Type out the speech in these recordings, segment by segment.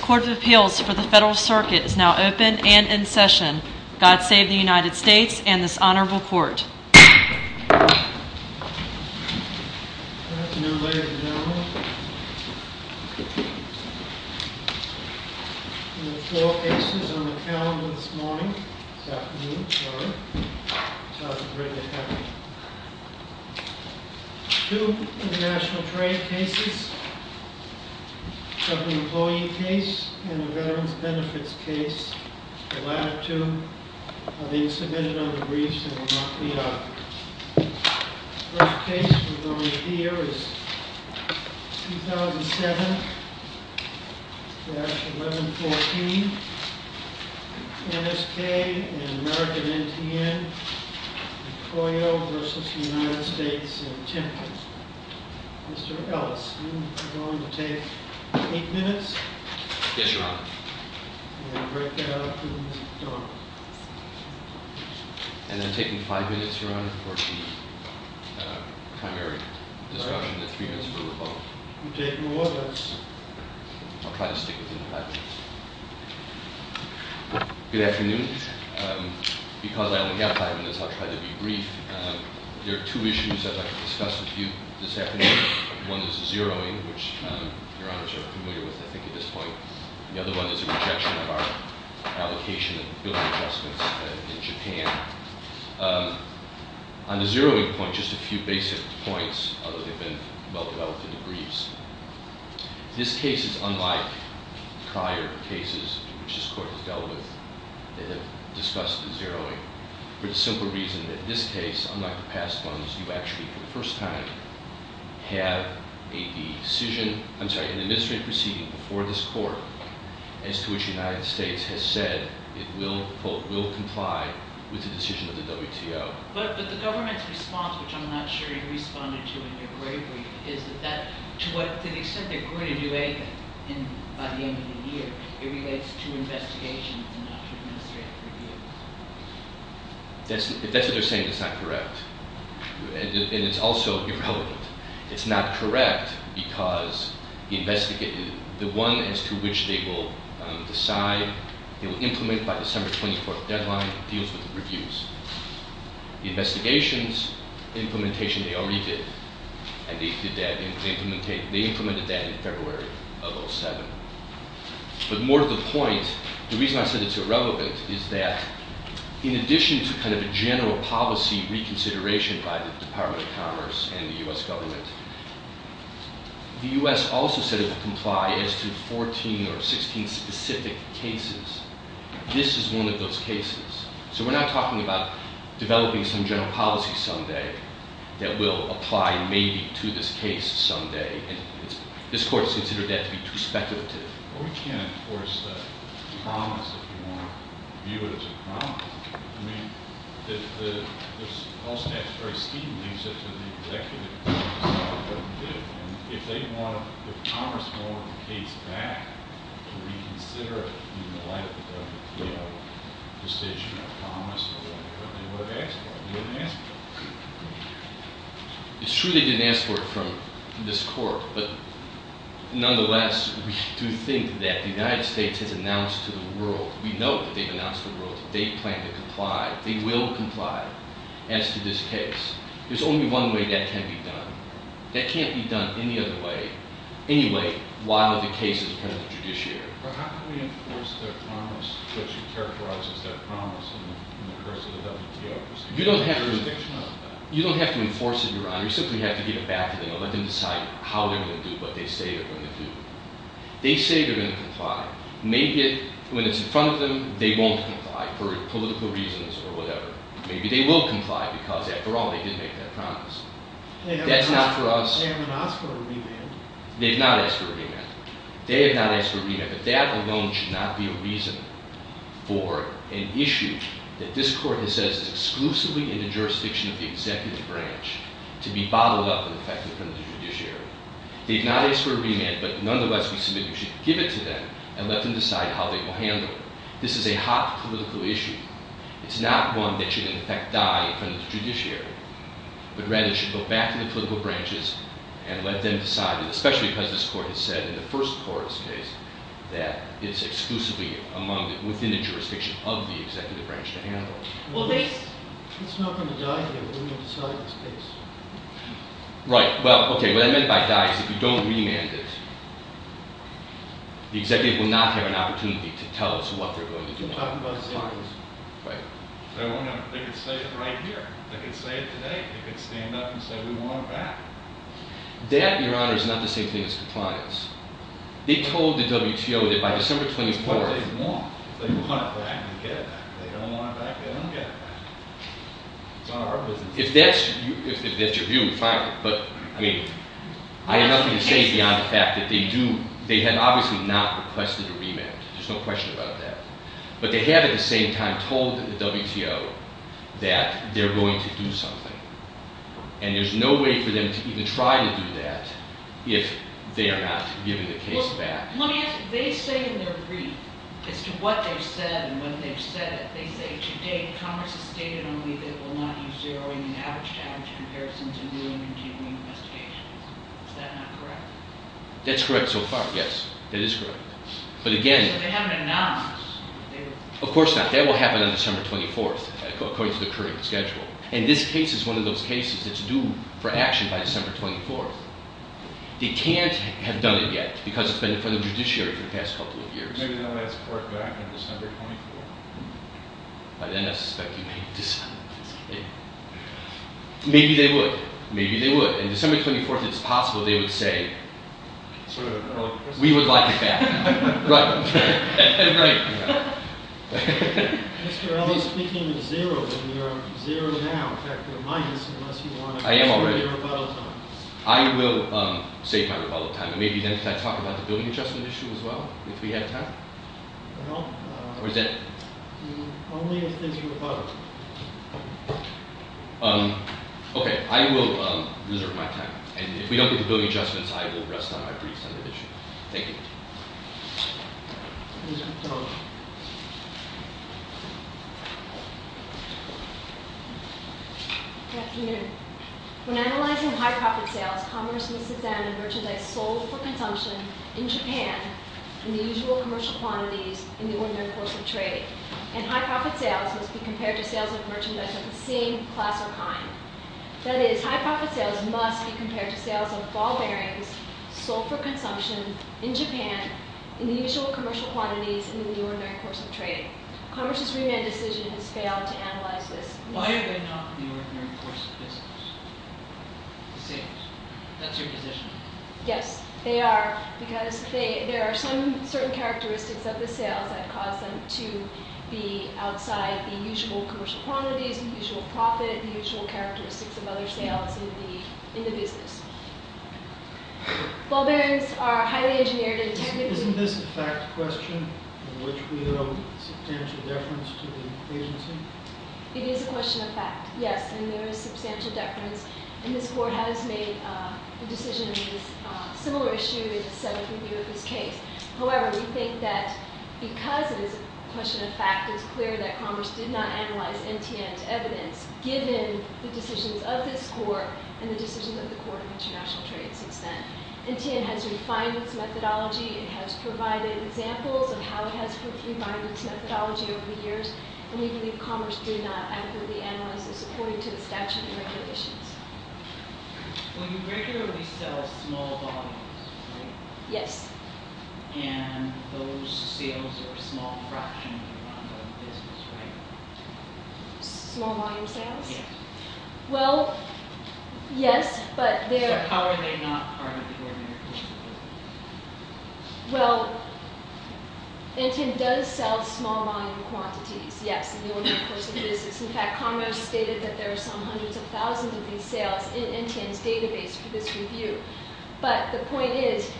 Court of Appeals for the Federal Circuit is now open and in session. God save the United States Court of Appeals for the Federal Circuit is now open and in session. The case and the veterans benefits case, the latter two, are being submitted on the briefs and will not be authored. The first case we're going to hear is 2007-1114, NSK and American Veterans Benefits. The second case we're going to hear is 2007-1114, NSK and American Veterans Benefits. The other one is a rejection of our allocation of building adjustments in Japan. On the zeroing point, just a few basic points, although they've been well-developed in the briefs. This case is unlike prior cases which this court has dealt with that have discussed the zeroing, for the simple reason that this case, unlike the past ones, you actually, for the first time, have a decision, I'm sorry, an administrative proceeding before this court as to which the United States has said it will comply with the decision of the WTO. But the government's response, which I'm not sure you responded to in your brief, is that to the extent they're going to do anything by the end of the year, it relates to investigations and not to administrative reviews. That's what they're saying is not correct. And it's also irrelevant. It's not correct because the one as to which they will decide, they will implement by December 24th deadline deals with reviews. Investigations, implementation they already did. And they did that, they implemented that in February of 2007. But more to the point, the reason I said it's irrelevant is that in addition to kind of a general policy reconsideration by the Department of Commerce and the U.S. government, the U.S. also said it would comply as to 14 or 16 specific cases. This is one of those cases. So we're not talking about developing some general policy someday that will apply maybe to this case someday. And this court has considered that to be too speculative. We can't enforce the promise if you want to view it as a promise. I mean, if the, if all staff is very steamy, except for the executive, that's not what we did. And if they want to, if Commerce wanted the case back, to reconsider it in the light of the WTO decision or promise or whatever, they would have asked for it. They wouldn't have asked for it. It's true they didn't ask for it from this court. But nonetheless, we do think that the United States has announced to the world, we know that they've announced to the world that they plan to comply, they will comply as to this case. There's only one way that can be done. That can't be done any other way, any way, while the case is present in the judiciary. But how can we enforce their promise, which characterizes their promise in the course of the WTO? You don't have to enforce it, Your Honor. You simply have to give it back to them and let them decide how they're going to do what they say they're going to do. They say they're going to comply. Maybe when it's in front of them, they won't comply for political reasons or whatever. Maybe they will comply because, after all, they did make that promise. That's not for us. They haven't asked for a remand. They've not asked for a remand. They have not asked for a remand. But that alone should not be a reason for an issue that this Court has said is exclusively in the jurisdiction of the executive branch to be bottled up and affected in front of the judiciary. They've not asked for a remand, but nonetheless, we submit you should give it to them and let them decide how they will handle it. This is a hot political issue. It's not one that should, in effect, die in front of the judiciary. But rather, it should go back to the political branches and let them decide, especially because this Court has said, in the first court's case, that it's exclusively within the jurisdiction of the executive branch to handle it. Well, it's not going to die here. We're going to decide in this case. Right. Well, okay. What I meant by die is if you don't remand it, the executive will not have an opportunity to tell us what they're going to do next. We're talking about savings. Right. They could say it right here. They could say it today. They could stand up and say we want it back. That, Your Honor, is not the same thing as compliance. They told the WTO that by December 24th— That's what they want. They want it back and get it back. They don't want it back, they don't get it back. It's not our business. If that's your view, fine. But, I mean, I have nothing to say beyond the fact that they do— they have obviously not requested a remand. There's no question about that. But they have, at the same time, told the WTO that they're going to do something. And there's no way for them to even try to do that if they are not given the case back. Well, let me ask you. They say in their brief as to what they've said and when they've said it, they say, to date, Congress has stated only that it will not use zeroing in average-to-average comparisons in new and continuing investigations. Is that not correct? That's correct so far, yes. That is correct. But, again— So they haven't announced that they will— Of course not. That will happen on December 24th, according to the current schedule. And this case is one of those cases that's due for action by December 24th. They can't have done it yet because it's been in front of the judiciary for the past couple of years. Maybe they'll ask for it back on December 24th. By then, I suspect you may have decided that's the case. Maybe they would. Maybe they would. On December 24th, if it's possible, they would say— Sort of early Christmas? We would like it back. Right. Right. Mr. Ellis, speaking of zero, we are at zero now. In fact, we're at minus unless you want to— I am already— —reserve your rebuttal time. I will save my rebuttal time. And maybe then can I talk about the building adjustment issue as well, if we have time? No. Or is that— Only if there's rebuttal. Okay. I will reserve my time. And if we don't get the building adjustments, I will rest on my briefs on the issue. Thank you. Ms. McDonough. Good afternoon. When analyzing high-profit sales, commerce must examine merchandise sold for consumption in Japan in the usual commercial quantities in the ordinary course of trade. And high-profit sales must be compared to sales of merchandise of the same class or kind. That is, high-profit sales must be compared to sales of ball bearings sold for consumption in Japan in the usual commercial quantities in the ordinary course of trade. Commerce's remand decision has failed to analyze this. Why are they not in the ordinary course of business? The same. That's your position. Yes. They are because there are some certain characteristics of the sales that cause them to be outside the usual commercial quantities, the usual profit, the usual characteristics of other sales in the business. Ball bearings are highly engineered and technically— Isn't this a fact question in which we owe substantial deference to the agency? It is a question of fact, yes. And there is substantial deference. And this Court has made a decision on this similar issue that is settled with you in this case. However, we think that because it is a question of fact, it is clear that Commerce did not analyze NTN's evidence given the decisions of this Court and the decisions of the Court of International Trade since then. NTN has refined its methodology. It has provided examples of how it has refined its methodology over the years. And we believe Commerce did not adequately analyze this according to the statute and regulations. Well, you regularly sell small volumes, right? Yes. And those sales are a small fraction of the amount of business, right? Small volume sales? Yes. Well, yes, but they're— So how are they not part of the ordinary person's business? Well, NTN does sell small volume quantities, yes, in the ordinary person's business. In fact, Commerce stated that there are some hundreds of thousands of these sales in NTN's database for this review. But the point is,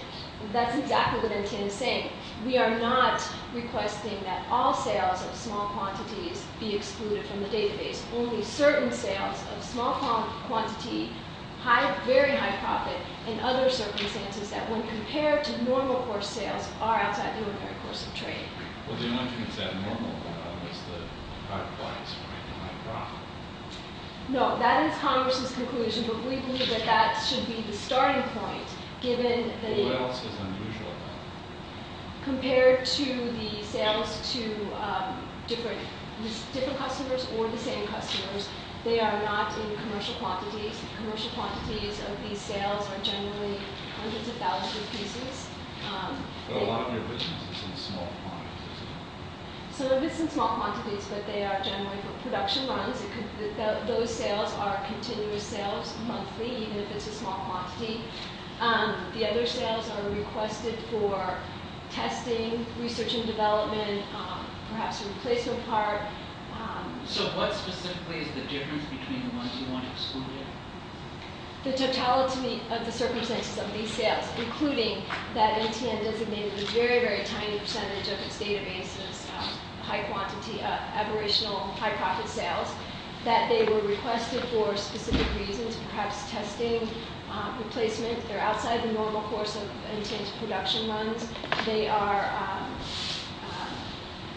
that's exactly what NTN is saying. We are not requesting that all sales of small quantities be excluded from the database. Only certain sales of small quantity, very high profit, in other circumstances, that when compared to normal course sales, are outside the ordinary course of trade. Well, the only thing that's abnormal about them is the high price, right, and high profit. No, that is Congress's conclusion, but we believe that that should be the starting point, given that— What else is unusual about them? Compared to the sales to different customers or the same customers, they are not in commercial quantities. Commercial quantities of these sales are generally hundreds of thousands of pieces. But a lot of your business is in small quantities, isn't it? Some of it's in small quantities, but they are generally for production runs. Those sales are continuous sales, monthly, even if it's a small quantity. The other sales are requested for testing, research and development, perhaps a replacement part. So what specifically is the difference between the ones you want excluded? The totality of the circumstances of these sales, including that MTN designated a very, very tiny percentage of its database as high quantity, aberrational, high profit sales, that they were requested for specific reasons, perhaps testing, replacement. They're outside the normal course of MTN's production runs. They are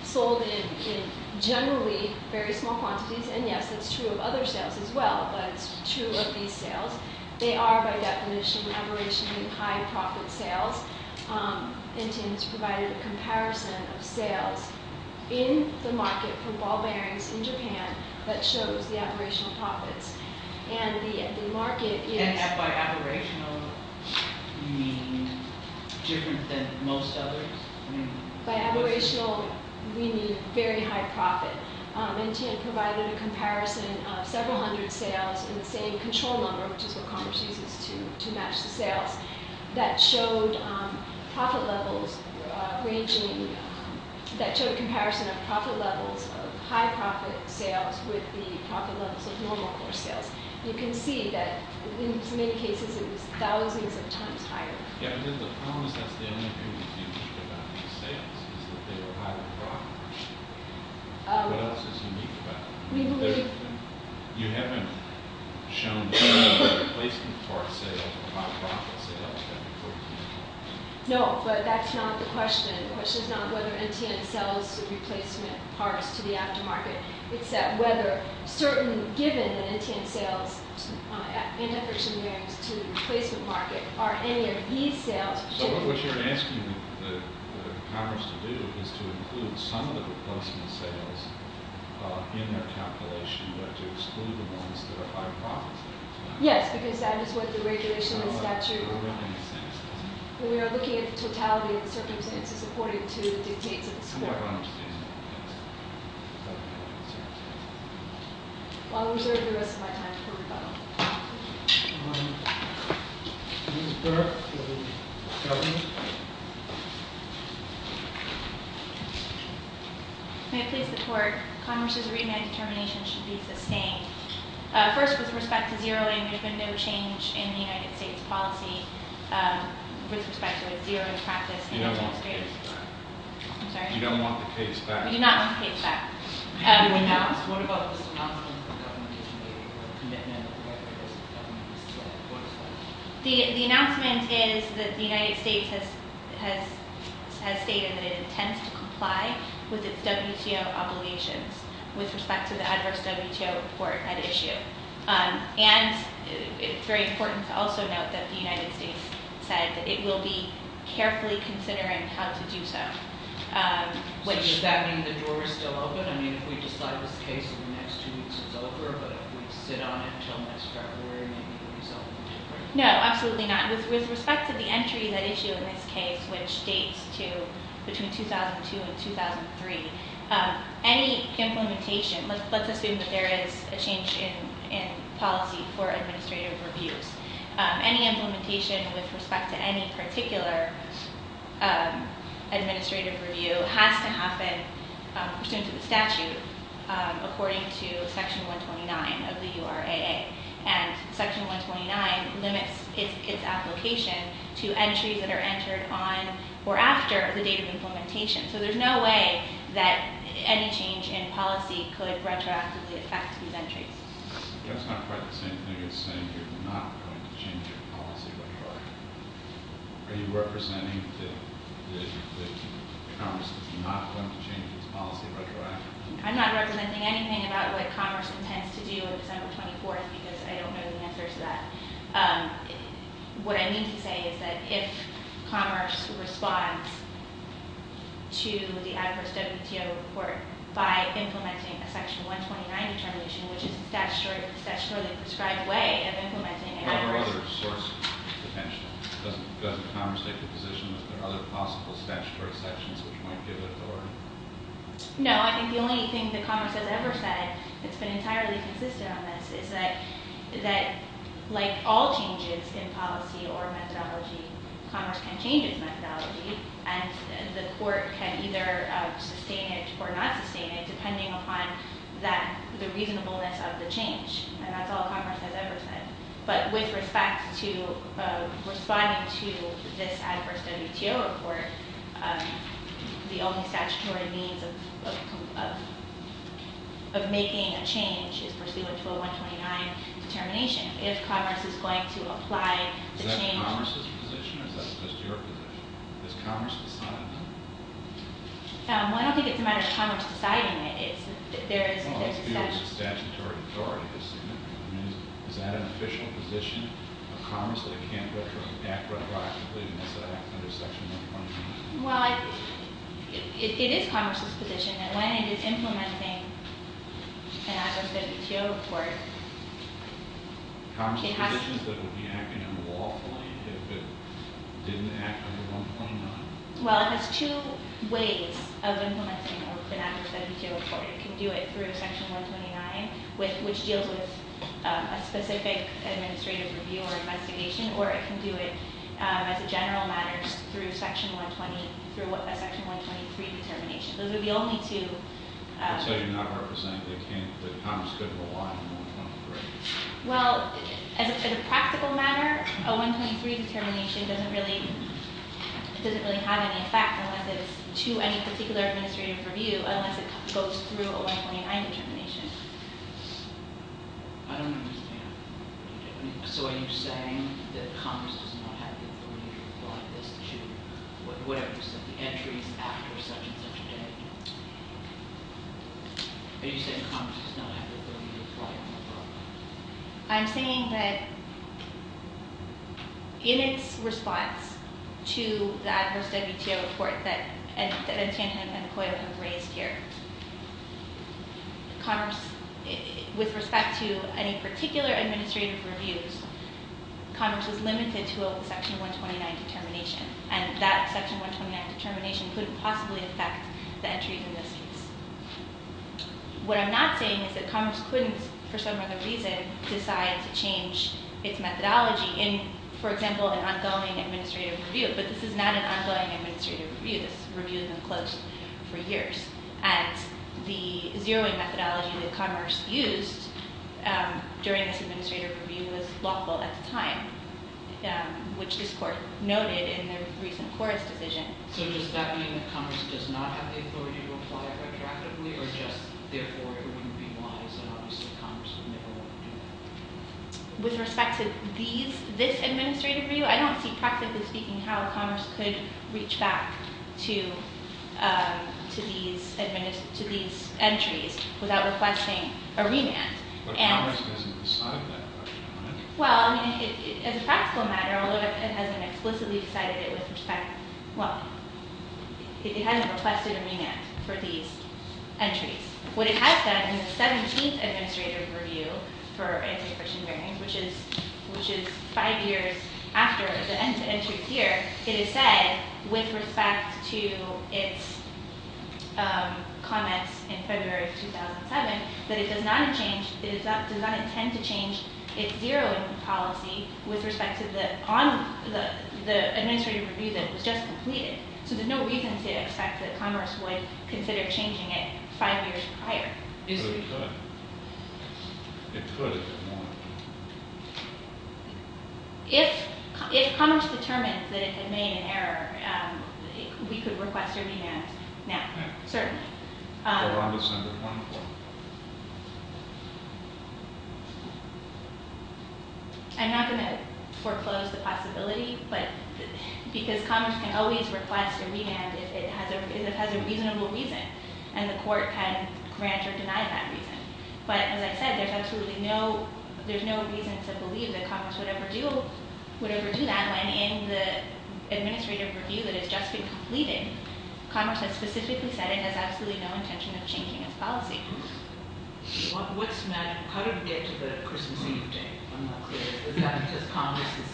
sold in generally very small quantities, and yes, that's true of other sales as well, but it's true of these sales. They are, by definition, aberrationally high profit sales. MTN has provided a comparison of sales in the market for ball bearings in Japan that shows the aberrational profits. And the market is... And by aberrational, you mean different than most others? By aberrational, we mean very high profit. MTN provided a comparison of several hundred sales in the same control number, which is what Congress uses to match the sales, that showed profit levels ranging... that showed a comparison of profit levels of high profit sales with the profit levels of normal course sales. You can see that in many cases, it was thousands of times higher. Yeah, because the problem is that's the only thing we can do about these sales, is that they are high profit. What else is unique about them? We believe... You haven't shown replacement parts sales or high profit sales, have you, for example? No, but that's not the question. The question is not whether MTN sells replacement parts to the aftermarket. It's whether, certainly given that MTN sells antifriction bearings to the replacement market, are any of these sales... So what you're asking Congress to do is to include some of the replacement sales in their calculation, but to exclude the ones that are high profit. Yes, because that is what the regulation in the statute... We are looking at the totality of the circumstances according to the dictates of the score. I'll reserve the rest of my time for rebuttal. Ms. Burke for the government. May it please the court. Congress's remand determination should be sustained. First, with respect to zeroing, there's been no change in the United States policy with respect to a zeroing practice in the United States. You don't want the case back. I'm sorry? You don't want the case back. We do not want the case back. What about this announcement that the government issued today, or the commitment of the White House to the government, what is that? The announcement is that the United States has stated that it intends to comply with its WTO obligations with respect to the adverse WTO report at issue. And it's very important to also note that the United States said that it will be carefully considering how to do so. So does that mean the door is still open? I mean, if we decide this case in the next two weeks, it's over. But if we sit on it until next February, maybe the result will be different. No, absolutely not. With respect to the entry that issued in this case, which dates to between 2002 and 2003, any implementation... Let's assume that there is a change in policy for administrative reviews. Any implementation with respect to any particular administrative review has to happen pursuant to the statute according to Section 129 of the URAA. And Section 129 limits its application to entries that are entered on or after the date of implementation. So there's no way that any change in policy could retroactively affect these entries. That's not quite the same thing as saying you're not going to change your policy retroactively. Are you representing that Commerce is not going to change its policy retroactively? I'm not representing anything about what Commerce intends to do on December 24th because I don't know the answer to that. What I mean to say is that if Commerce responds to the adverse WTO report by implementing a Section 129 determination, which is a statutorily prescribed way of implementing an adverse... Are there other sources of attention? Doesn't Commerce take the position that there are other possible statutory sections which might give it the order? No, I think the only thing that Commerce has ever said that's been entirely consistent on this is that like all changes in policy or methodology, Commerce can change its methodology and the court can either sustain it or not sustain it depending upon the reasonableness of the change. And that's all Commerce has ever said. But with respect to responding to this adverse WTO report, the only statutory means of making a change is pursuant to a 129 determination. If Commerce is going to apply the change- Is that Commerce's position or is that just your position? Is Commerce deciding that? Well, I don't think it's a matter of Commerce deciding it. Well, it's viewed as a statutory authority, isn't it? Is that an official position of Commerce that it can't act retroactively unless it acts under Section 129? Well, it is Commerce's position that when it is implementing an adverse WTO report, it has to- Commerce's position is that it would be acting unlawfully if it didn't act under 129. Well, it has two ways of implementing an adverse WTO report. It can do it through Section 129, which deals with a specific administrative review or investigation, or it can do it as a general matter through a Section 123 determination. Those would be only two- So you're not representing that Commerce couldn't rely on 123? Well, as a practical matter, a 123 determination doesn't really have any effect unless it's to any particular administrative review, unless it goes through a 129 determination. I don't understand. So are you saying that Commerce does not have the authority to apply this to whatever, the entries after such and such a date? Are you saying Commerce does not have the authority to apply it to a program? I'm saying that in its response to the adverse WTO report that Etienne and Koya have raised here, Commerce, with respect to any particular administrative reviews, Commerce was limited to a Section 129 determination, and that Section 129 determination couldn't possibly affect the entries in this case. What I'm not saying is that Commerce couldn't, for some other reason, decide to change its methodology in, for example, an ongoing administrative review, but this is not an ongoing administrative review. This review has been closed for years, and the zeroing methodology that Commerce used during this administrative review was lawful at the time, which this Court noted in the recent Court's decision. So does that mean that Commerce does not have the authority to apply it retroactively, or just therefore it wouldn't be wise and obviously Commerce would never want to do that? With respect to this administrative review, I don't see practically speaking how Commerce could reach back to these entries without requesting a remand. But Commerce doesn't decide that, right? Well, I mean, as a practical matter, although it hasn't explicitly decided it with respect, well, it hasn't requested a remand for these entries. What it has done in the 17th administrative review for anti-christian bearings, which is five years after the entry here, it has said, with respect to its comments in February of 2007, that it does not intend to change its zeroing policy with respect to the administrative review that was just completed. So there's no reason to expect that Commerce would consider changing it five years prior. But it could. It could if it wanted to. If Commerce determined that it had made an error, we could request a remand now, certainly. I'm not going to foreclose the possibility, but because Commerce can always request a remand if it has a reasonable reason, and the court can grant or deny that reason. But as I said, there's no reason to believe that Commerce would ever do that when in the administrative review that has just been completed, Commerce has specifically said it has absolutely no intention of changing its policy. How did it get to the Christmas Eve date? Is that because Commerce has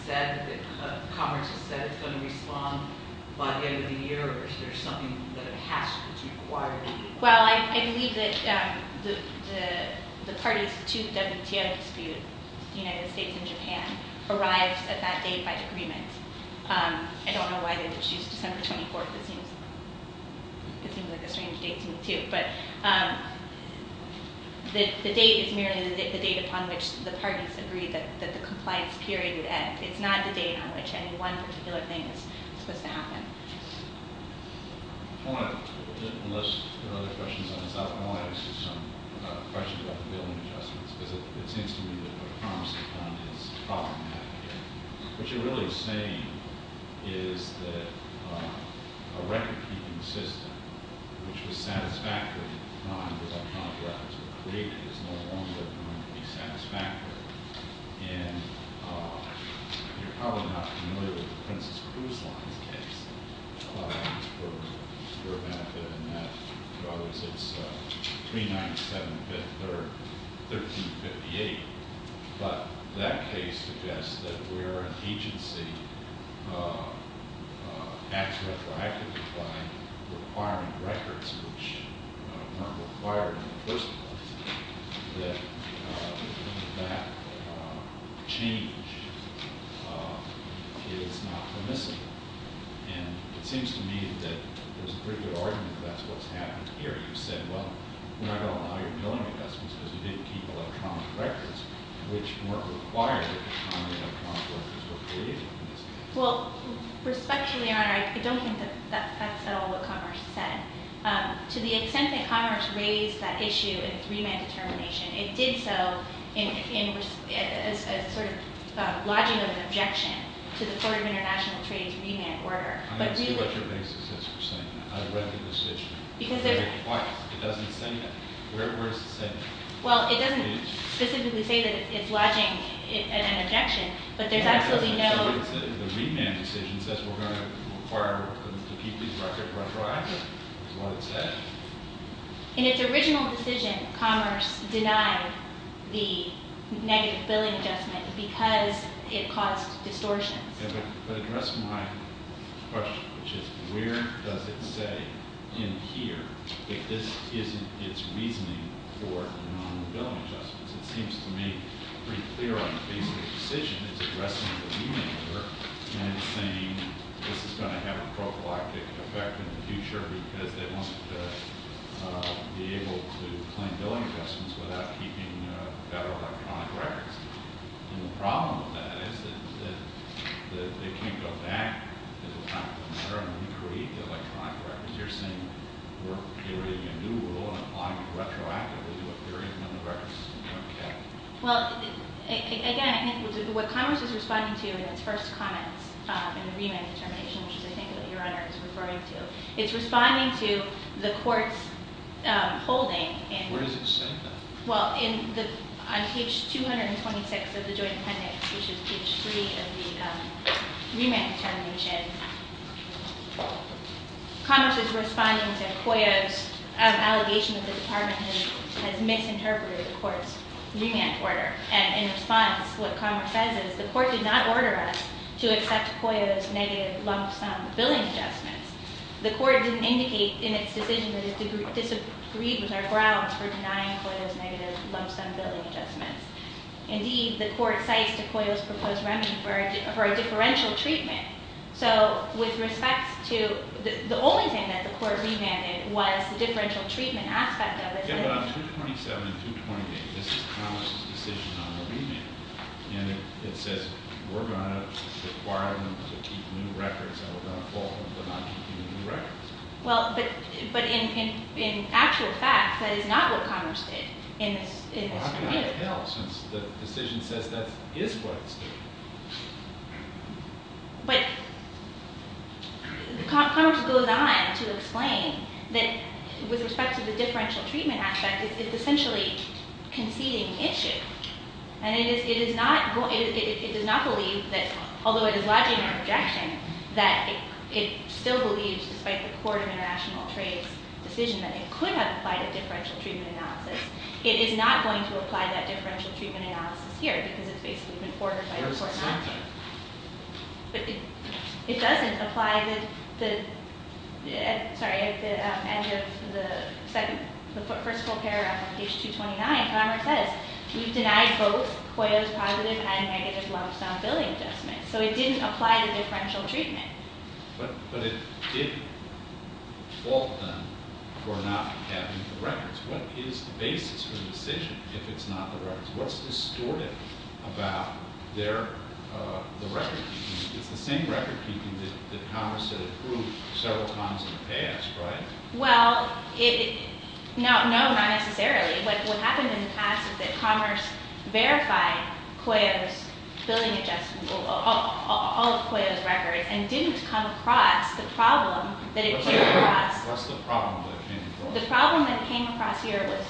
said it's going to respond by the end of the year, or is there something that has to be required? Well, I believe that the parties to the WTO dispute, the United States and Japan, arrived at that date by agreement. I don't know why they did choose December 24th. It seems like a strange date to me, too. But the date is merely the date upon which the parties agreed that the compliance period would end. It's not the date on which any one particular thing is supposed to happen. I want to, unless there are other questions on this, I want to ask you some questions about the billing adjustments, because it seems to me that what Commerce has done is problematic. What you're really saying is that a record-keeping system, which was satisfactory at the time the electronic records were created, is no longer going to be satisfactory. And you're probably not familiar with the Princess Cruise Line case. It was for your benefit, and that was between 9th, 7th, or 13th, 58th. But that case suggests that where an agency acts retroactively by requiring records, which weren't required in the first place, that that change is not permissible. And it seems to me that there's a pretty good argument that that's what's happened here. You said, well, we're not going to allow your billing adjustments because we didn't keep electronic records, which weren't required at the time the electronic records were created. Well, respectfully, Your Honor, I don't think that that's at all what Commerce said. To the extent that Commerce raised that issue in its remand determination, it did so in a sort of lodging of an objection to the Court of International Trade's remand order. I don't see what your basis is for saying that. I read the decision. Why? It doesn't say that? Where is it saying that? Well, it doesn't specifically say that it's lodging an objection, but there's absolutely no— So what it said in the remand decision says we're going to require to keep these records retroactive? That's what it said? In its original decision, Commerce denied the negative billing adjustment because it caused distortions. But addressing my question, which is where does it say in here that this isn't its reasoning for non-billing adjustments, it seems to me pretty clear on the basis of the decision it's addressing the remand order and it's saying this is going to have a prophylactic effect in the future because it wants to be able to claim billing adjustments without keeping federal electronic records. And the problem with that is that they can't go back to the time of the matter when we create the electronic records. You're saying we're creating a new rule and applying it retroactively to a period when the records are going to be kept. Well, again, what Commerce is responding to in its first comments in the remand determination, which I think your Honor is referring to, it's responding to the Court's holding. Where does it say that? Well, on page 226 of the Joint Appendix, which is page 3 of the remand determination, Commerce is responding to COYO's allegation that the Department has misinterpreted the Court's remand order. And in response, what Commerce says is the Court did not order us to accept COYO's negative lump sum billing adjustments. The Court didn't indicate in its decision that it disagreed with our grounds for denying COYO's negative lump sum billing adjustments. Indeed, the Court cites to COYO's proposed remedy for a differential treatment. So with respect to the only thing that the Court remanded was the differential treatment aspect of it. In page 227 through 228, this is Commerce's decision on the remand. And it says we're going to require them to keep new records and we're going to call them for not keeping new records. Well, but in actual fact, that is not what Commerce did in this review. Well, I'm going to have to tell since the decision says that is what it's doing. But Commerce goes on to explain that with respect to the differential treatment aspect, it's essentially conceding issue. And it does not believe that, although it is lodging an objection, that it still believes, despite the Court of International Trade's decision, that it could have applied a differential treatment analysis. It is not going to apply that differential treatment analysis here because it's basically been fortified by the court. But it doesn't apply to the, sorry, at the end of the second, the first full paragraph of page 229, Commerce says we've denied both COYO's positive and negative lump sum billing adjustments. So it didn't apply the differential treatment. But it did fault them for not having the records. What is the basis for the decision if it's not the records? What's distorted about their, the record keeping? It's the same record keeping that Commerce had approved several times in the past, right? Well, no, not necessarily. But what happened in the past is that Commerce verified COYO's billing adjustment, all of COYO's records, and didn't come across the problem that it came across. What's the problem that it came across? The problem that it came across here was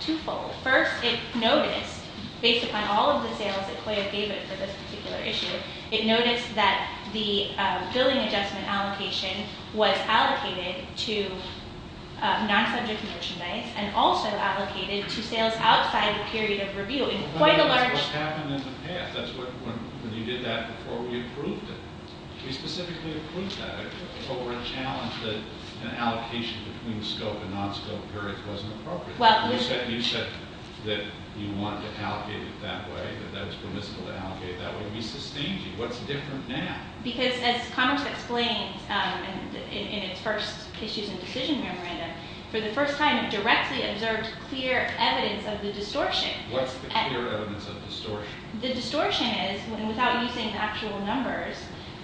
twofold. First, it noticed, based upon all of the sales that COYO gave it for this particular issue, it noticed that the billing adjustment allocation was allocated to non-subject merchandise and also allocated to sales outside the period of review in quite a large- That's what happened in the past. That's when you did that before we approved it. We specifically approved that. But we were challenged that an allocation between scope and non-scope periods wasn't appropriate. You said that you wanted to allocate it that way, that that was permissible to allocate that way. We sustained you. What's different now? Because as Commerce explained in its first Issues and Decision Memorandum, for the first time it directly observed clear evidence of the distortion. What's the clear evidence of distortion? The distortion is, without using actual numbers,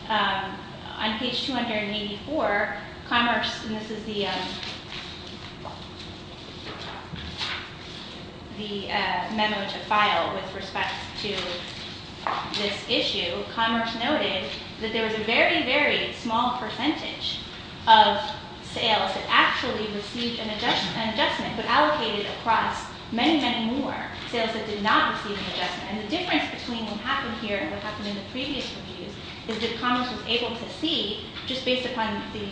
on page 284, Commerce- and this is the memo to file with respect to this issue- Commerce noted that there was a very, very small percentage of sales that actually received an adjustment but allocated across many, many more sales that did not receive an adjustment. And the difference between what happened here and what happened in the previous reviews is that Commerce was able to see, just based upon the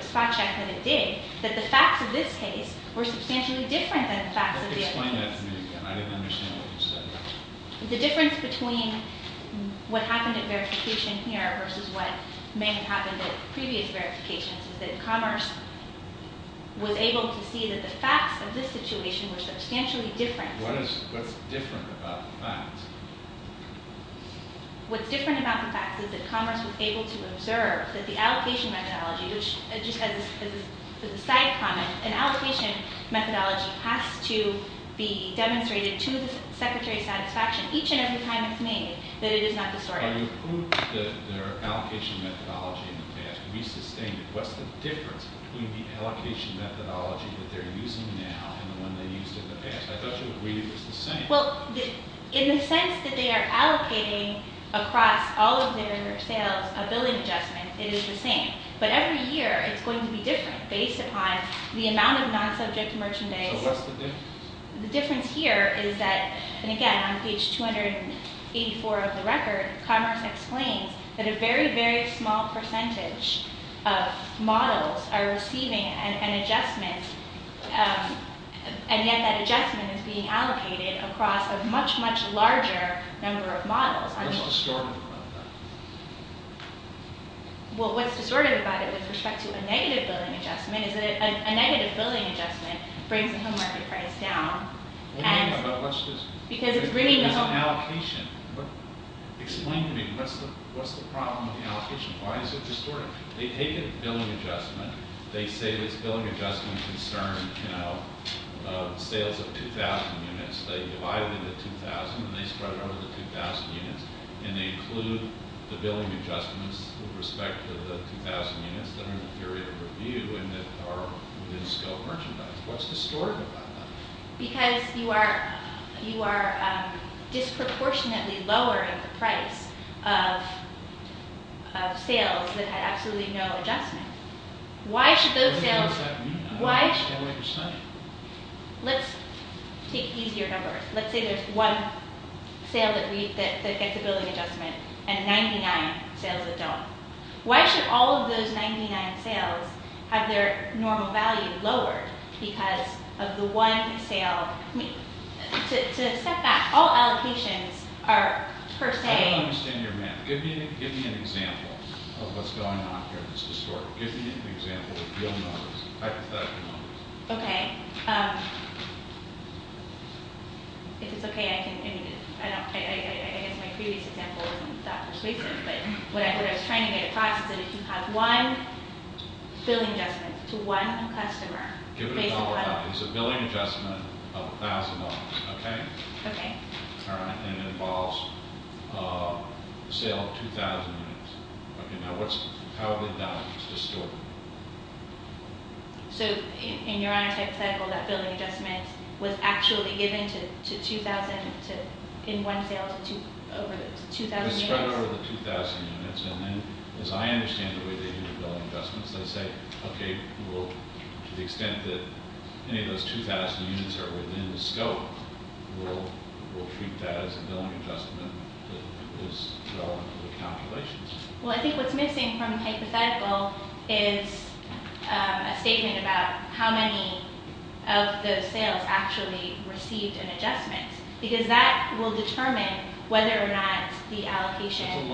spot check that it did, that the facts of this case were substantially different than the facts of the- Explain that to me again. I didn't understand what you said. The difference between what happened at verification here versus what may have happened at previous verifications is that Commerce was able to see that the facts of this situation were substantially different. What's different about the facts? What's different about the facts is that Commerce was able to observe that the allocation methodology, which just as a side comment, an allocation methodology has to be demonstrated to the Secretary of Satisfaction each and every time it's made that it is not distorted. Are you proving that their allocation methodology in the past resustained? What's the difference between the allocation methodology that they're using now and the one they used in the past? I thought you agreed it was the same. Well, in the sense that they are allocating across all of their sales a billing adjustment, it is the same, but every year it's going to be different based upon the amount of non-subject merchandise. So what's the difference? The difference here is that, and again, on page 284 of the record, Commerce explains that a very, very small percentage of models are receiving an adjustment, and yet that adjustment is being allocated across a much, much larger number of models. What's distorted about that? Well, what's distorted about it with respect to a negative billing adjustment is that a negative billing adjustment brings the home market price down. What do you mean by that? What's distorted? Because it's bringing the home market price down. There's an allocation. Explain to me, what's the problem with the allocation? Why is it distorted? They take a billing adjustment. They say this billing adjustment concerns sales of 2,000 units. They divide it into 2,000 and they spread it over the 2,000 units, and they include the billing adjustments with respect to the 2,000 units that are in the period of review and that are within-scope merchandise. What's distorted about that? Because you are disproportionately lowering the price of sales that had absolutely no adjustment. Let's take easier numbers. Let's say there's one sale that gets a billing adjustment and 99 sales that don't. Why should all of those 99 sales have their normal value lowered because of the one sale? To step back, all allocations are per se— I don't understand your math. Give me an example of what's going on here that's distorted. Give me an example of real numbers, hypothetical numbers. Okay. If it's okay, I can—I guess my previous example wasn't that persuasive, but what I was trying to get across is that if you have one billing adjustment to one customer— Give it a dollar value. It's a billing adjustment of $1,000, okay? Okay. All right, and it involves a sale of 2,000 units. Okay, now what's—how did that get distorted? So in your hypothetical, that billing adjustment was actually given to 2,000 to—in one sale to over 2,000 units? They spread it over the 2,000 units, and then, as I understand the way they do the billing adjustments, they say, okay, well, to the extent that any of those 2,000 units are within the scope, we'll treat that as a billing adjustment that is relevant to the calculations. Well, I think what's missing from the hypothetical is a statement about how many of those sales actually received an adjustment because that will determine whether or not the allocation—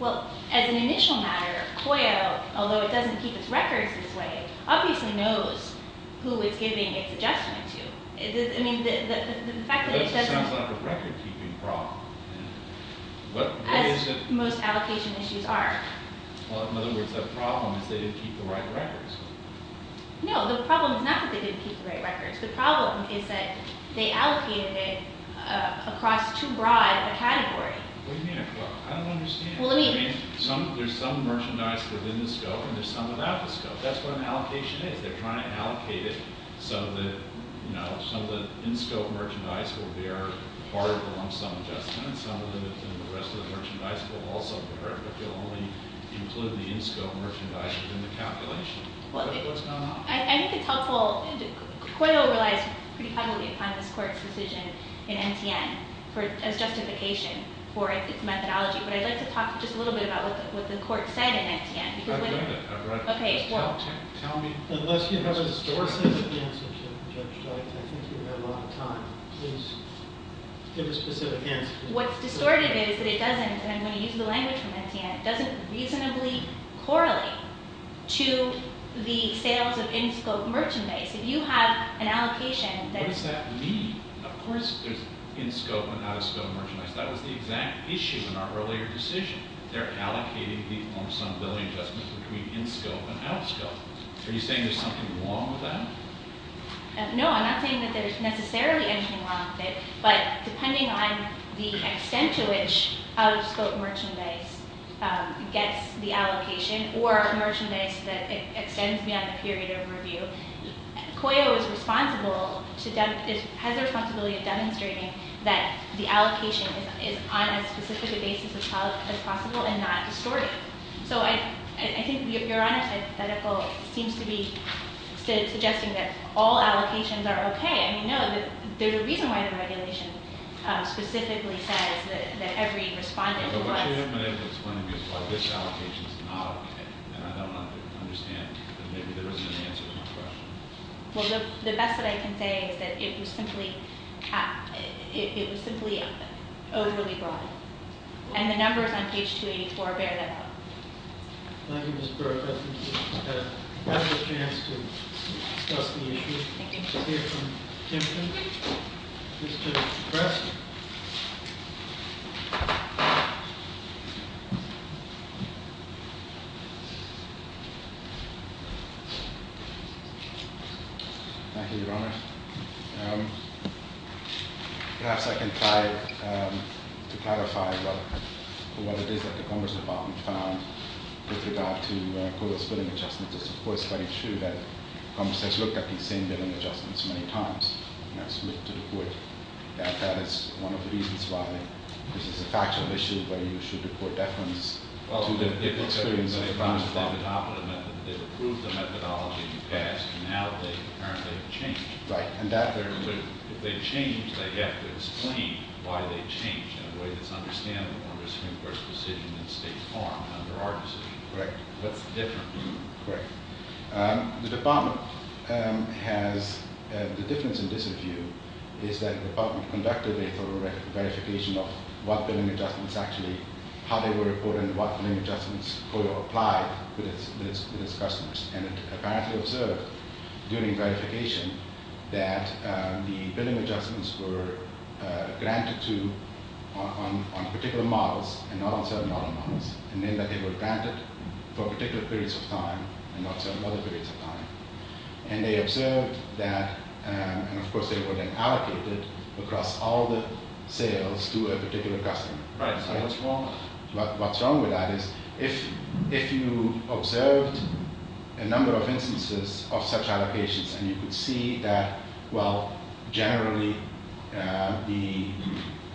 Well, as an initial matter, COYO, although it doesn't keep its records this way, obviously knows who it's giving its adjustment to. I mean, the fact that it doesn't— That just sounds like a record-keeping problem. As most allocation issues are. Well, in other words, the problem is they didn't keep the right records. No, the problem is not that they didn't keep the right records. The problem is that they allocated it across too broad a category. What do you mean across? I don't understand. Well, let me— I mean, there's some merchandise within the scope, and there's some without the scope. That's what an allocation is. They're trying to allocate it so that, you know, some of the in-scope merchandise will bear part of the lump sum adjustment, and some of the rest of the merchandise will also bear it, but they'll only include the in-scope merchandise within the calculation. What's going on? I think it's helpful—Coyo realized pretty publicly upon this Court's decision in MTN as justification for its methodology, but I'd like to talk just a little bit about what the Court said in MTN. I've read it. I've read it. Okay. Tell me—unless you have a distorted sense of the answer, Judge, I think we've had a lot of time. Please give a specific answer. What's distorted is that it doesn't—and I'm going to use the language from MTN— it doesn't reasonably correlate to the sales of in-scope merchandise. If you have an allocation that— What does that mean? Of course there's in-scope and out-of-scope merchandise. That was the exact issue in our earlier decision. They're allocating the lump sum billing adjustment between in-scope and out-of-scope. Are you saying there's something wrong with that? No, I'm not saying that there's necessarily anything wrong with it, but depending on the extent to which out-of-scope merchandise gets the allocation or merchandise that extends beyond the period of review, COYO is responsible to—has the responsibility of demonstrating that the allocation is on as specific a basis as possible and not distorted. So I think Your Honor's hypothetical seems to be suggesting that all allocations are okay. I mean, no, the reason why the regulation specifically says that every respondent must— But what you're implying is why this allocation is not okay, and I don't understand, and maybe there isn't an answer to my question. Well, the best that I can say is that it was simply overly broad, and the numbers on page 284 bear that out. Thank you, Ms. Burke. We have a chance to discuss the issue. Thank you. We'll hear from Timpton. Mr. Preston. Thank you, Your Honor. Perhaps I can try to clarify what it is that the Commerce Department found with regard to COYO's billing adjustments. It's, of course, very true that Commerce has looked at these same billing adjustments many times and has submitted to the Court that that is one of the reasons why this is a factual issue where you should report deference to the experience of the Commerce Department. They've approved the methodology in the past, and now they apparently have changed. Right. If they change, they have to explain why they changed in a way that's understandable under the Supreme Court's decision in State Farm, under our decision. Correct. What's the difference? Correct. The Department has, the difference in this review is that the Department conducted a thorough verification of what billing adjustments actually, how they were reported and what billing adjustments COYO applied with its customers, and it apparently observed during verification that the billing adjustments were granted to, on particular models and not on certain other models, and then that they were granted for particular periods of time and not certain other periods of time. And they observed that, and of course they were then allocated across all the sales to a particular customer. Right. So what's wrong? What's wrong with that is if you observed a number of instances of such allocations and you could see that, well, generally the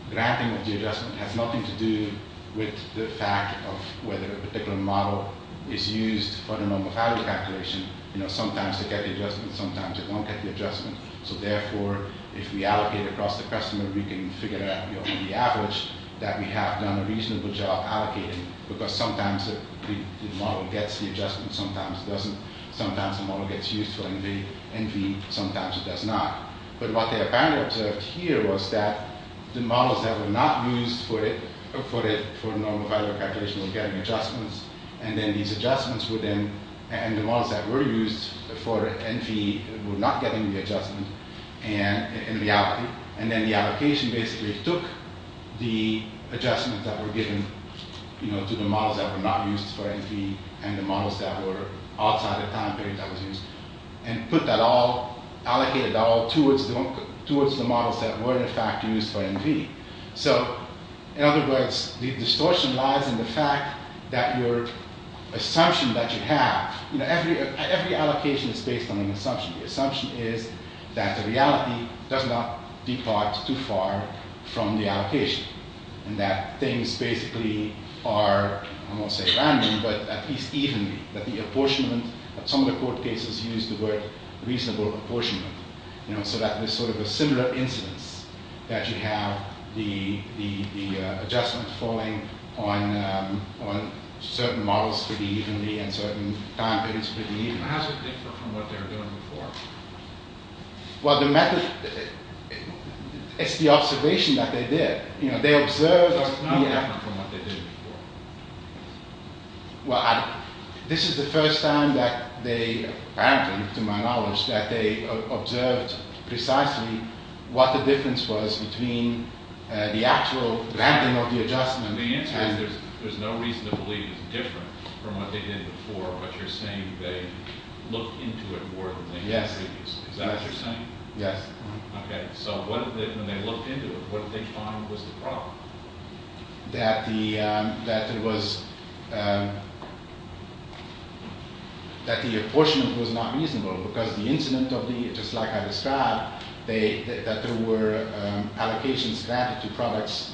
granting of the adjustment has nothing to do with the fact of whether a particular model is used for the normal value calculation. You know, sometimes they get the adjustment, sometimes they don't get the adjustment. So therefore, if we allocate across the customer, we can figure out the average that we have done a reasonable job allocating because sometimes the model gets the adjustment, sometimes it doesn't, sometimes the model gets used for NV, sometimes it does not. But what they apparently observed here was that the models that were not used for the normal value calculation were getting adjustments, and then these adjustments were then, and the models that were used for NV were not getting the adjustment in reality. And then the allocation basically took the adjustments that were given to the models that were not used for NV and the models that were outside the time period that was used, and put that all, allocated that all towards the models that were in fact used for NV. So in other words, the distortion lies in the fact that your assumption that you have, you know, every allocation is based on an assumption. The assumption is that the reality does not depart too far from the allocation and that things basically are, I won't say random, but at least evenly, that the apportionment, some of the court cases use the word reasonable apportionment, you know, so that there's sort of a similar incidence, that you have the adjustment falling on certain models pretty evenly and certain time periods pretty evenly. How is it different from what they were doing before? Well, the method, it's the observation that they did. You know, they observed. So it's not different from what they did before? Well, this is the first time that they, apparently to my knowledge, that they observed precisely what the difference was between the actual granting of the adjustment. The answer is there's no reason to believe it's different from what they did before, but you're saying they looked into it more than they did previously. Yes. Is that what you're saying? Yes. Okay, so when they looked into it, what did they find was the problem? That the apportionment was not reasonable because the incidence of the, just like I described, that there were allocations granted to products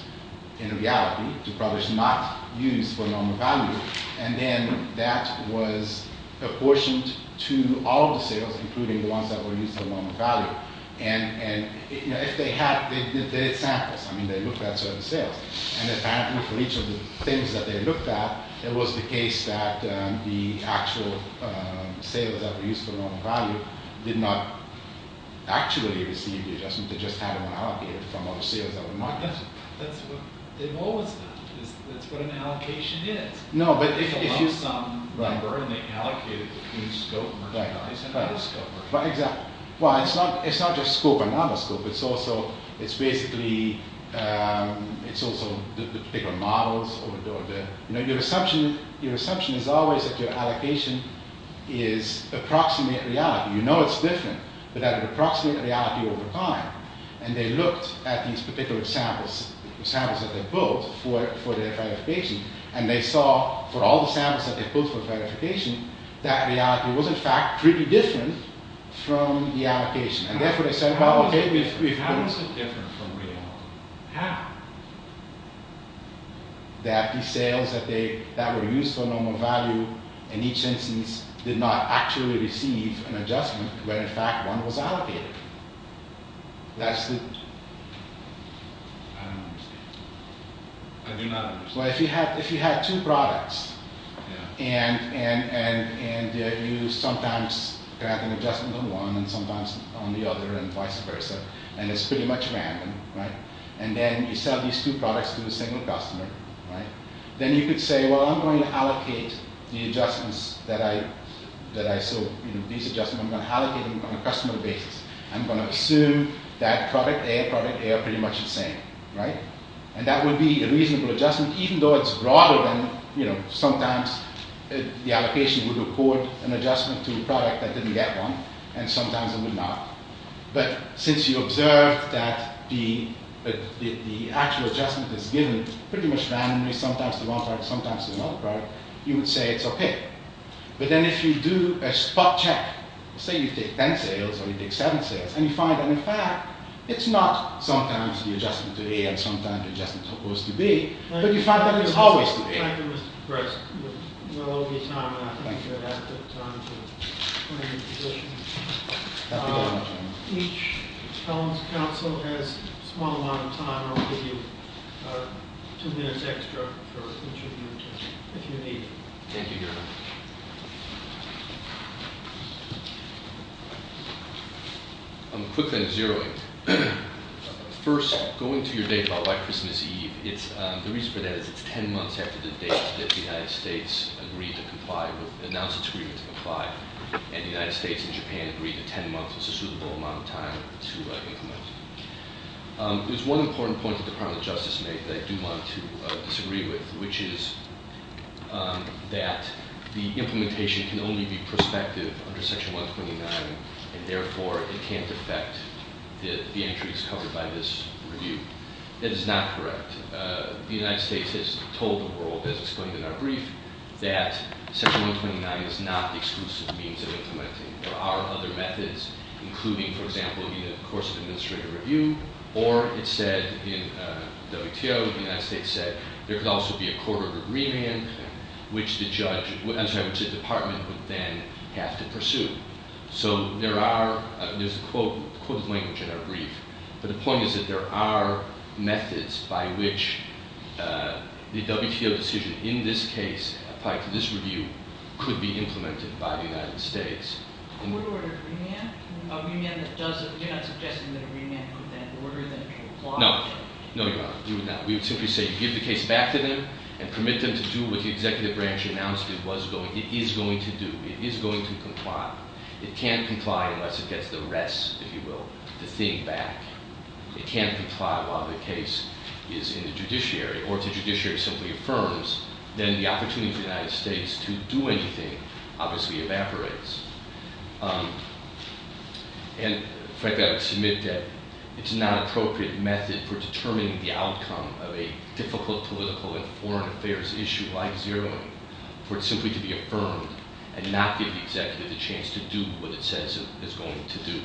in reality, to products not used for normal value, and then that was apportioned to all the sales, including the ones that were used for normal value. And, you know, if they had, they did samples. I mean, they looked at certain sales. And apparently for each of the things that they looked at, it was the case that the actual sales that were used for normal value did not actually receive the adjustment. They just had it allocated from other sales that were not. That's what they've always done. That's what an allocation is. No, but if you. If it was some number and they allocated it between scope merchandise and other scope merchandise. Right, exactly. Well, it's not just scope and other scope. It's also, it's basically, it's also the particular models or the, you know, your assumption, your assumption is always that your allocation is approximate reality. You know it's different, but that approximate reality over time. And they looked at these particular samples. The samples that they built for their verification. And they saw for all the samples that they built for verification, that reality was in fact pretty different from the allocation. And therefore they said. How is it different from reality? How? That the sales that they, that were used for normal value in each instance did not actually receive an adjustment. When in fact one was allocated. That's the. I don't understand. I do not understand. Well, if you had, if you had two products. Yeah. And, and, and, and you sometimes grant an adjustment on one and sometimes on the other and vice versa. And it's pretty much random. Right. And then you sell these two products to a single customer. Right. Then you could say. Well, I'm going to allocate the adjustments that I, that I sold. These adjustments I'm going to allocate on a customer basis. I'm going to assume that product A and product A are pretty much the same. Right. And that would be a reasonable adjustment. Even though it's broader than, you know, sometimes the allocation would record an adjustment to a product that didn't get one. And sometimes it would not. But since you observed that the, the actual adjustment is given pretty much randomly. Sometimes to one product. Sometimes to another product. You would say it's okay. But then if you do a spot check. Say you take ten sales or you take seven sales. And you find that in fact it's not sometimes the adjustment to A and sometimes the adjustment to B. But you find that it's always to A. Thank you, Mr. Prest. We're running out of time. Thank you. And I think we're going to have to take time to put in positions. Thank you very much. Each council has a small amount of time. And I'll give you two minutes extra for questions if you need. Thank you very much. I'm quickly going to zero in. First, going to your date about why Christmas Eve. It's, the reason for that is it's ten months after the date that the United States agreed to comply with, announced its agreement to comply. And the United States and Japan agreed that ten months was a suitable amount of time to implement. There's one important point that the Department of Justice made that I do want to disagree with, which is that the implementation can only be prospective under Section 129. And therefore, it can't affect the entries covered by this review. That is not correct. The United States has told the world, as explained in our brief, that Section 129 is not the exclusive means of implementing. There are other methods, including, for example, in the course of administrative review. Or it said in WTO, the United States said, there could also be a court of agreement, which the judge, I'm sorry, which the department would then have to pursue. So there are, there's a quote, quote of the language in our brief. But the point is that there are methods by which the WTO decision in this case, applied to this review, could be implemented by the United States. A court-ordered remand? A remand that doesn't, you're not suggesting that a remand could then order them to comply? No. No, Your Honor, we would not. We would simply say, give the case back to them and permit them to do what the executive branch announced it was going, it is going to do. It is going to comply. It can't comply unless it gets the rest, if you will, the thing back. It can't comply while the case is in the judiciary. Or if the judiciary simply affirms, then the opportunity for the United States to do anything obviously evaporates. And frankly, I would submit that it's not an appropriate method for determining the outcome of a difficult political and foreign affairs issue like zeroing, for it simply to be affirmed and not give the executive the chance to do what it says it's going to do.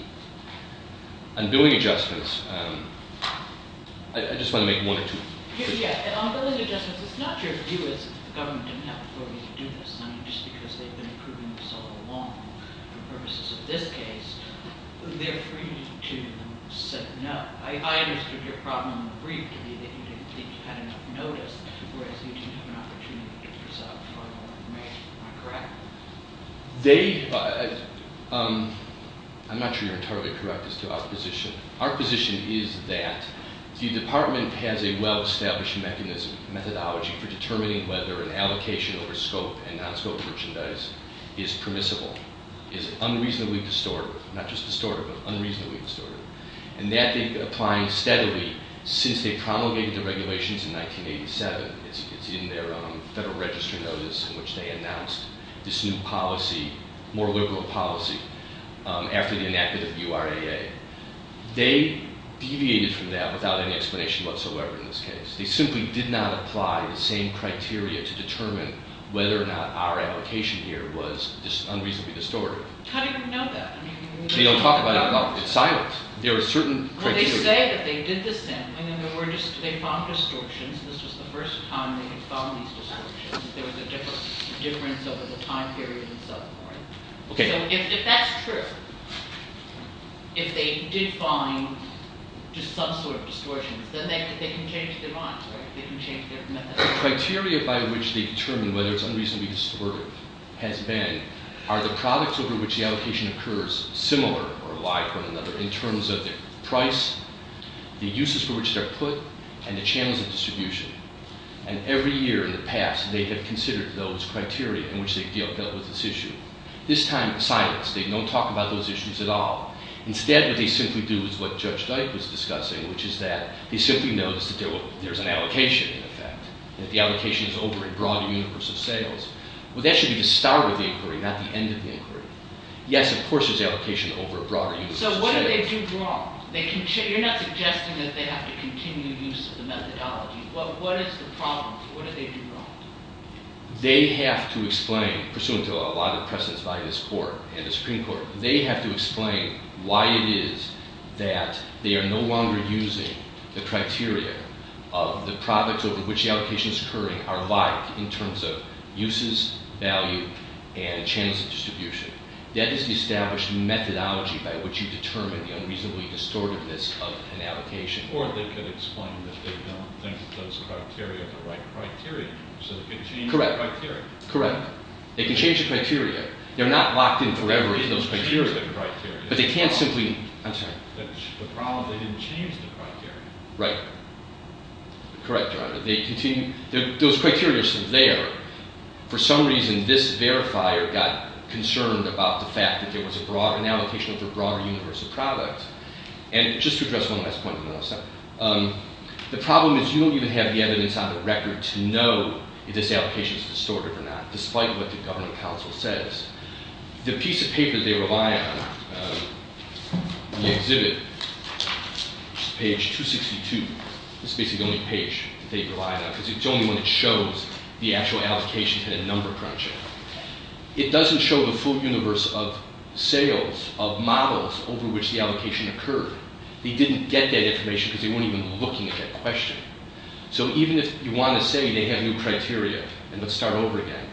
On building adjustments, I just want to make one or two. Yeah, and on building adjustments, it's not your view as if the government didn't have the authority to do this, just because they've been approving this all along for the purposes of this case. They're free to say no. I understood your problem in the brief to be that you didn't think you had enough notice, whereas you do have an opportunity to resolve a formal remand, am I correct? I'm not sure you're entirely correct as to our position. Our position is that the department has a well-established methodology for determining whether an allocation over scope and non-scope merchandise is permissible, is unreasonably distorted, not just distorted, but unreasonably distorted. And that they've been applying steadily since they promulgated the regulations in 1987. It's in their Federal Register notice in which they announced this new policy, more liberal policy, after the enactment of URAA. They deviated from that without any explanation whatsoever in this case. They simply did not apply the same criteria to determine whether or not our allocation here was unreasonably distorted. How do you know that? They don't talk about it at all. It's silent. Well, they say that they did this then. And then they found distortions. This was the first time they had found these distortions. There was a difference over the time period itself. Okay. So if that's true, if they did find just some sort of distortions, then they can change their minds, right? They can change their methodology. The criteria by which they determine whether it's unreasonably distorted has been, are the products over which the allocation occurs similar or alike one another in terms of the price, the uses for which they're put, and the channels of distribution. And every year in the past, they have considered those criteria in which they dealt with this issue. This time, silence. They don't talk about those issues at all. Instead, what they simply do is what Judge Dyke was discussing, which is that they simply notice that there's an allocation in effect, that the allocation is over a broader universe of sales. Well, that should be the start of the inquiry, not the end of the inquiry. Yes, of course, there's allocation over a broader universe of sales. So what do they do wrong? You're not suggesting that they have to continue use of the methodology. What is the problem? What do they do wrong? They have to explain, pursuant to a lot of precedence by this Court and the Supreme Court, they have to explain why it is that they are no longer using the criteria of the products over which the allocation is occurring are alike in terms of uses, value, and channels of distribution. That is the established methodology by which you determine the unreasonably distortiveness of an allocation. Or they could explain that they don't think those criteria are the right criteria. So they could change the criteria. Correct. They can change the criteria. They're not locked in forever in those criteria. They can change the criteria. But they can't simply… I'm sorry. The problem is they didn't change the criteria. Right. Correct, Your Honor. They continue… Those criteria are still there. For some reason, this verifier got concerned about the fact that there was an allocation of a broader universe of products. And just to address one last point, the problem is you don't even have the evidence on the record to know if this allocation is distorted or not, despite what the Governing Council says. The piece of paper they rely on, the exhibit, page 262, this is basically the only page they rely on, because it's the only one that shows the actual allocation had a number crunch in it. It doesn't show the full universe of sales, of models over which the allocation occurred. They didn't get that information because they weren't even looking at that question. So even if you want to say they have new criteria, and let's start over again,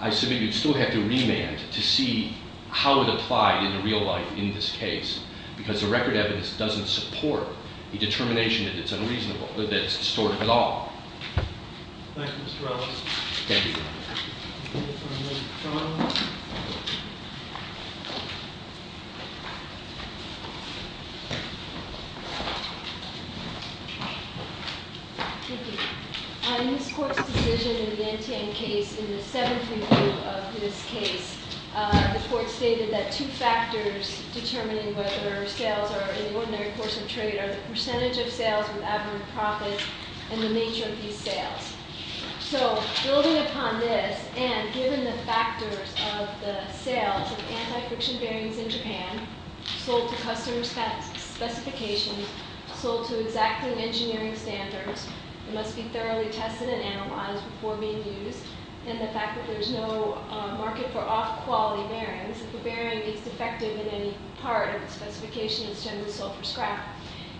I submit you'd still have to remand to see how it applied in real life in this case, because the record evidence doesn't support the determination that it's unreasonable, that it's distorted at all. Thank you, Mr. Roberts. Thank you. Thank you. In this Court's decision in the NTN case, in the seventh review of this case, the Court stated that two factors determining whether sales are in the ordinary course of trade are the percentage of sales with average profits and the nature of these sales. So building upon this, and given the factors of the sales of anti-friction bearings in Japan, sold to customer specifications, sold to exactly engineering standards, must be thoroughly tested and analyzed before being used, and the fact that there's no market for off-quality bearings, if a bearing is defective in any part of the specification, it's generally sold for scrap.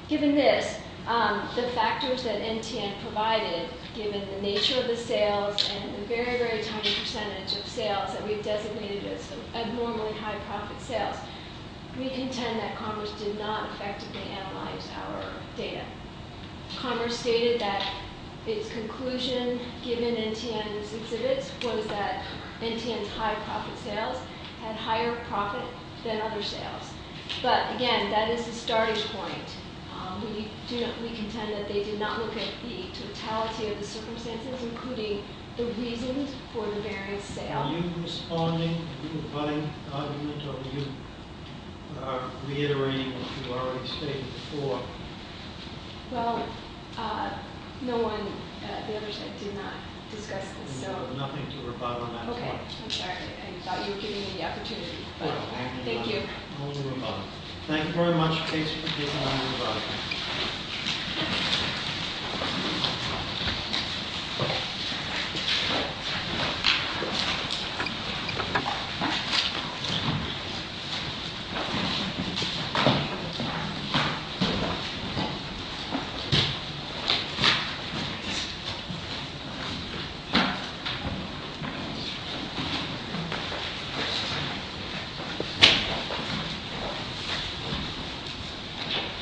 Given this, the factors that NTN provided, given the nature of the sales and the very, very tiny percentage of sales that we've designated as abnormally high-profit sales, we contend that Commerce did not effectively analyze our data. Commerce stated that its conclusion, given NTN's exhibits, was that NTN's high-profit sales had higher profit than other sales. But, again, that is the starting point. We contend that they did not look at the totality of the circumstances, including the reasons for the bearing's sale. Are you responding to the rebutting argument, or are you reiterating what you've already stated before? Well, no one at the other site did not discuss this, so... There's nothing to rebut on that part. Okay. I'm sorry. I thought you were giving me the opportunity. Thank you. Only rebut. Thank you very much, Kate, for giving us your rebuttal. Thank you.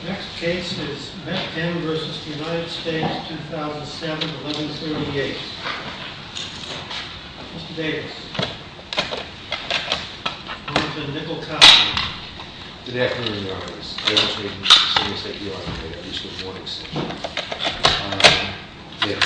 The next case is Metkin v. United States, 2007-1138. Mr. Davis. Mr. Davis. We have a nickel copy. Good afternoon, Your Honors. I have a statement to say that we are prepared at least for the morning session. Yeah.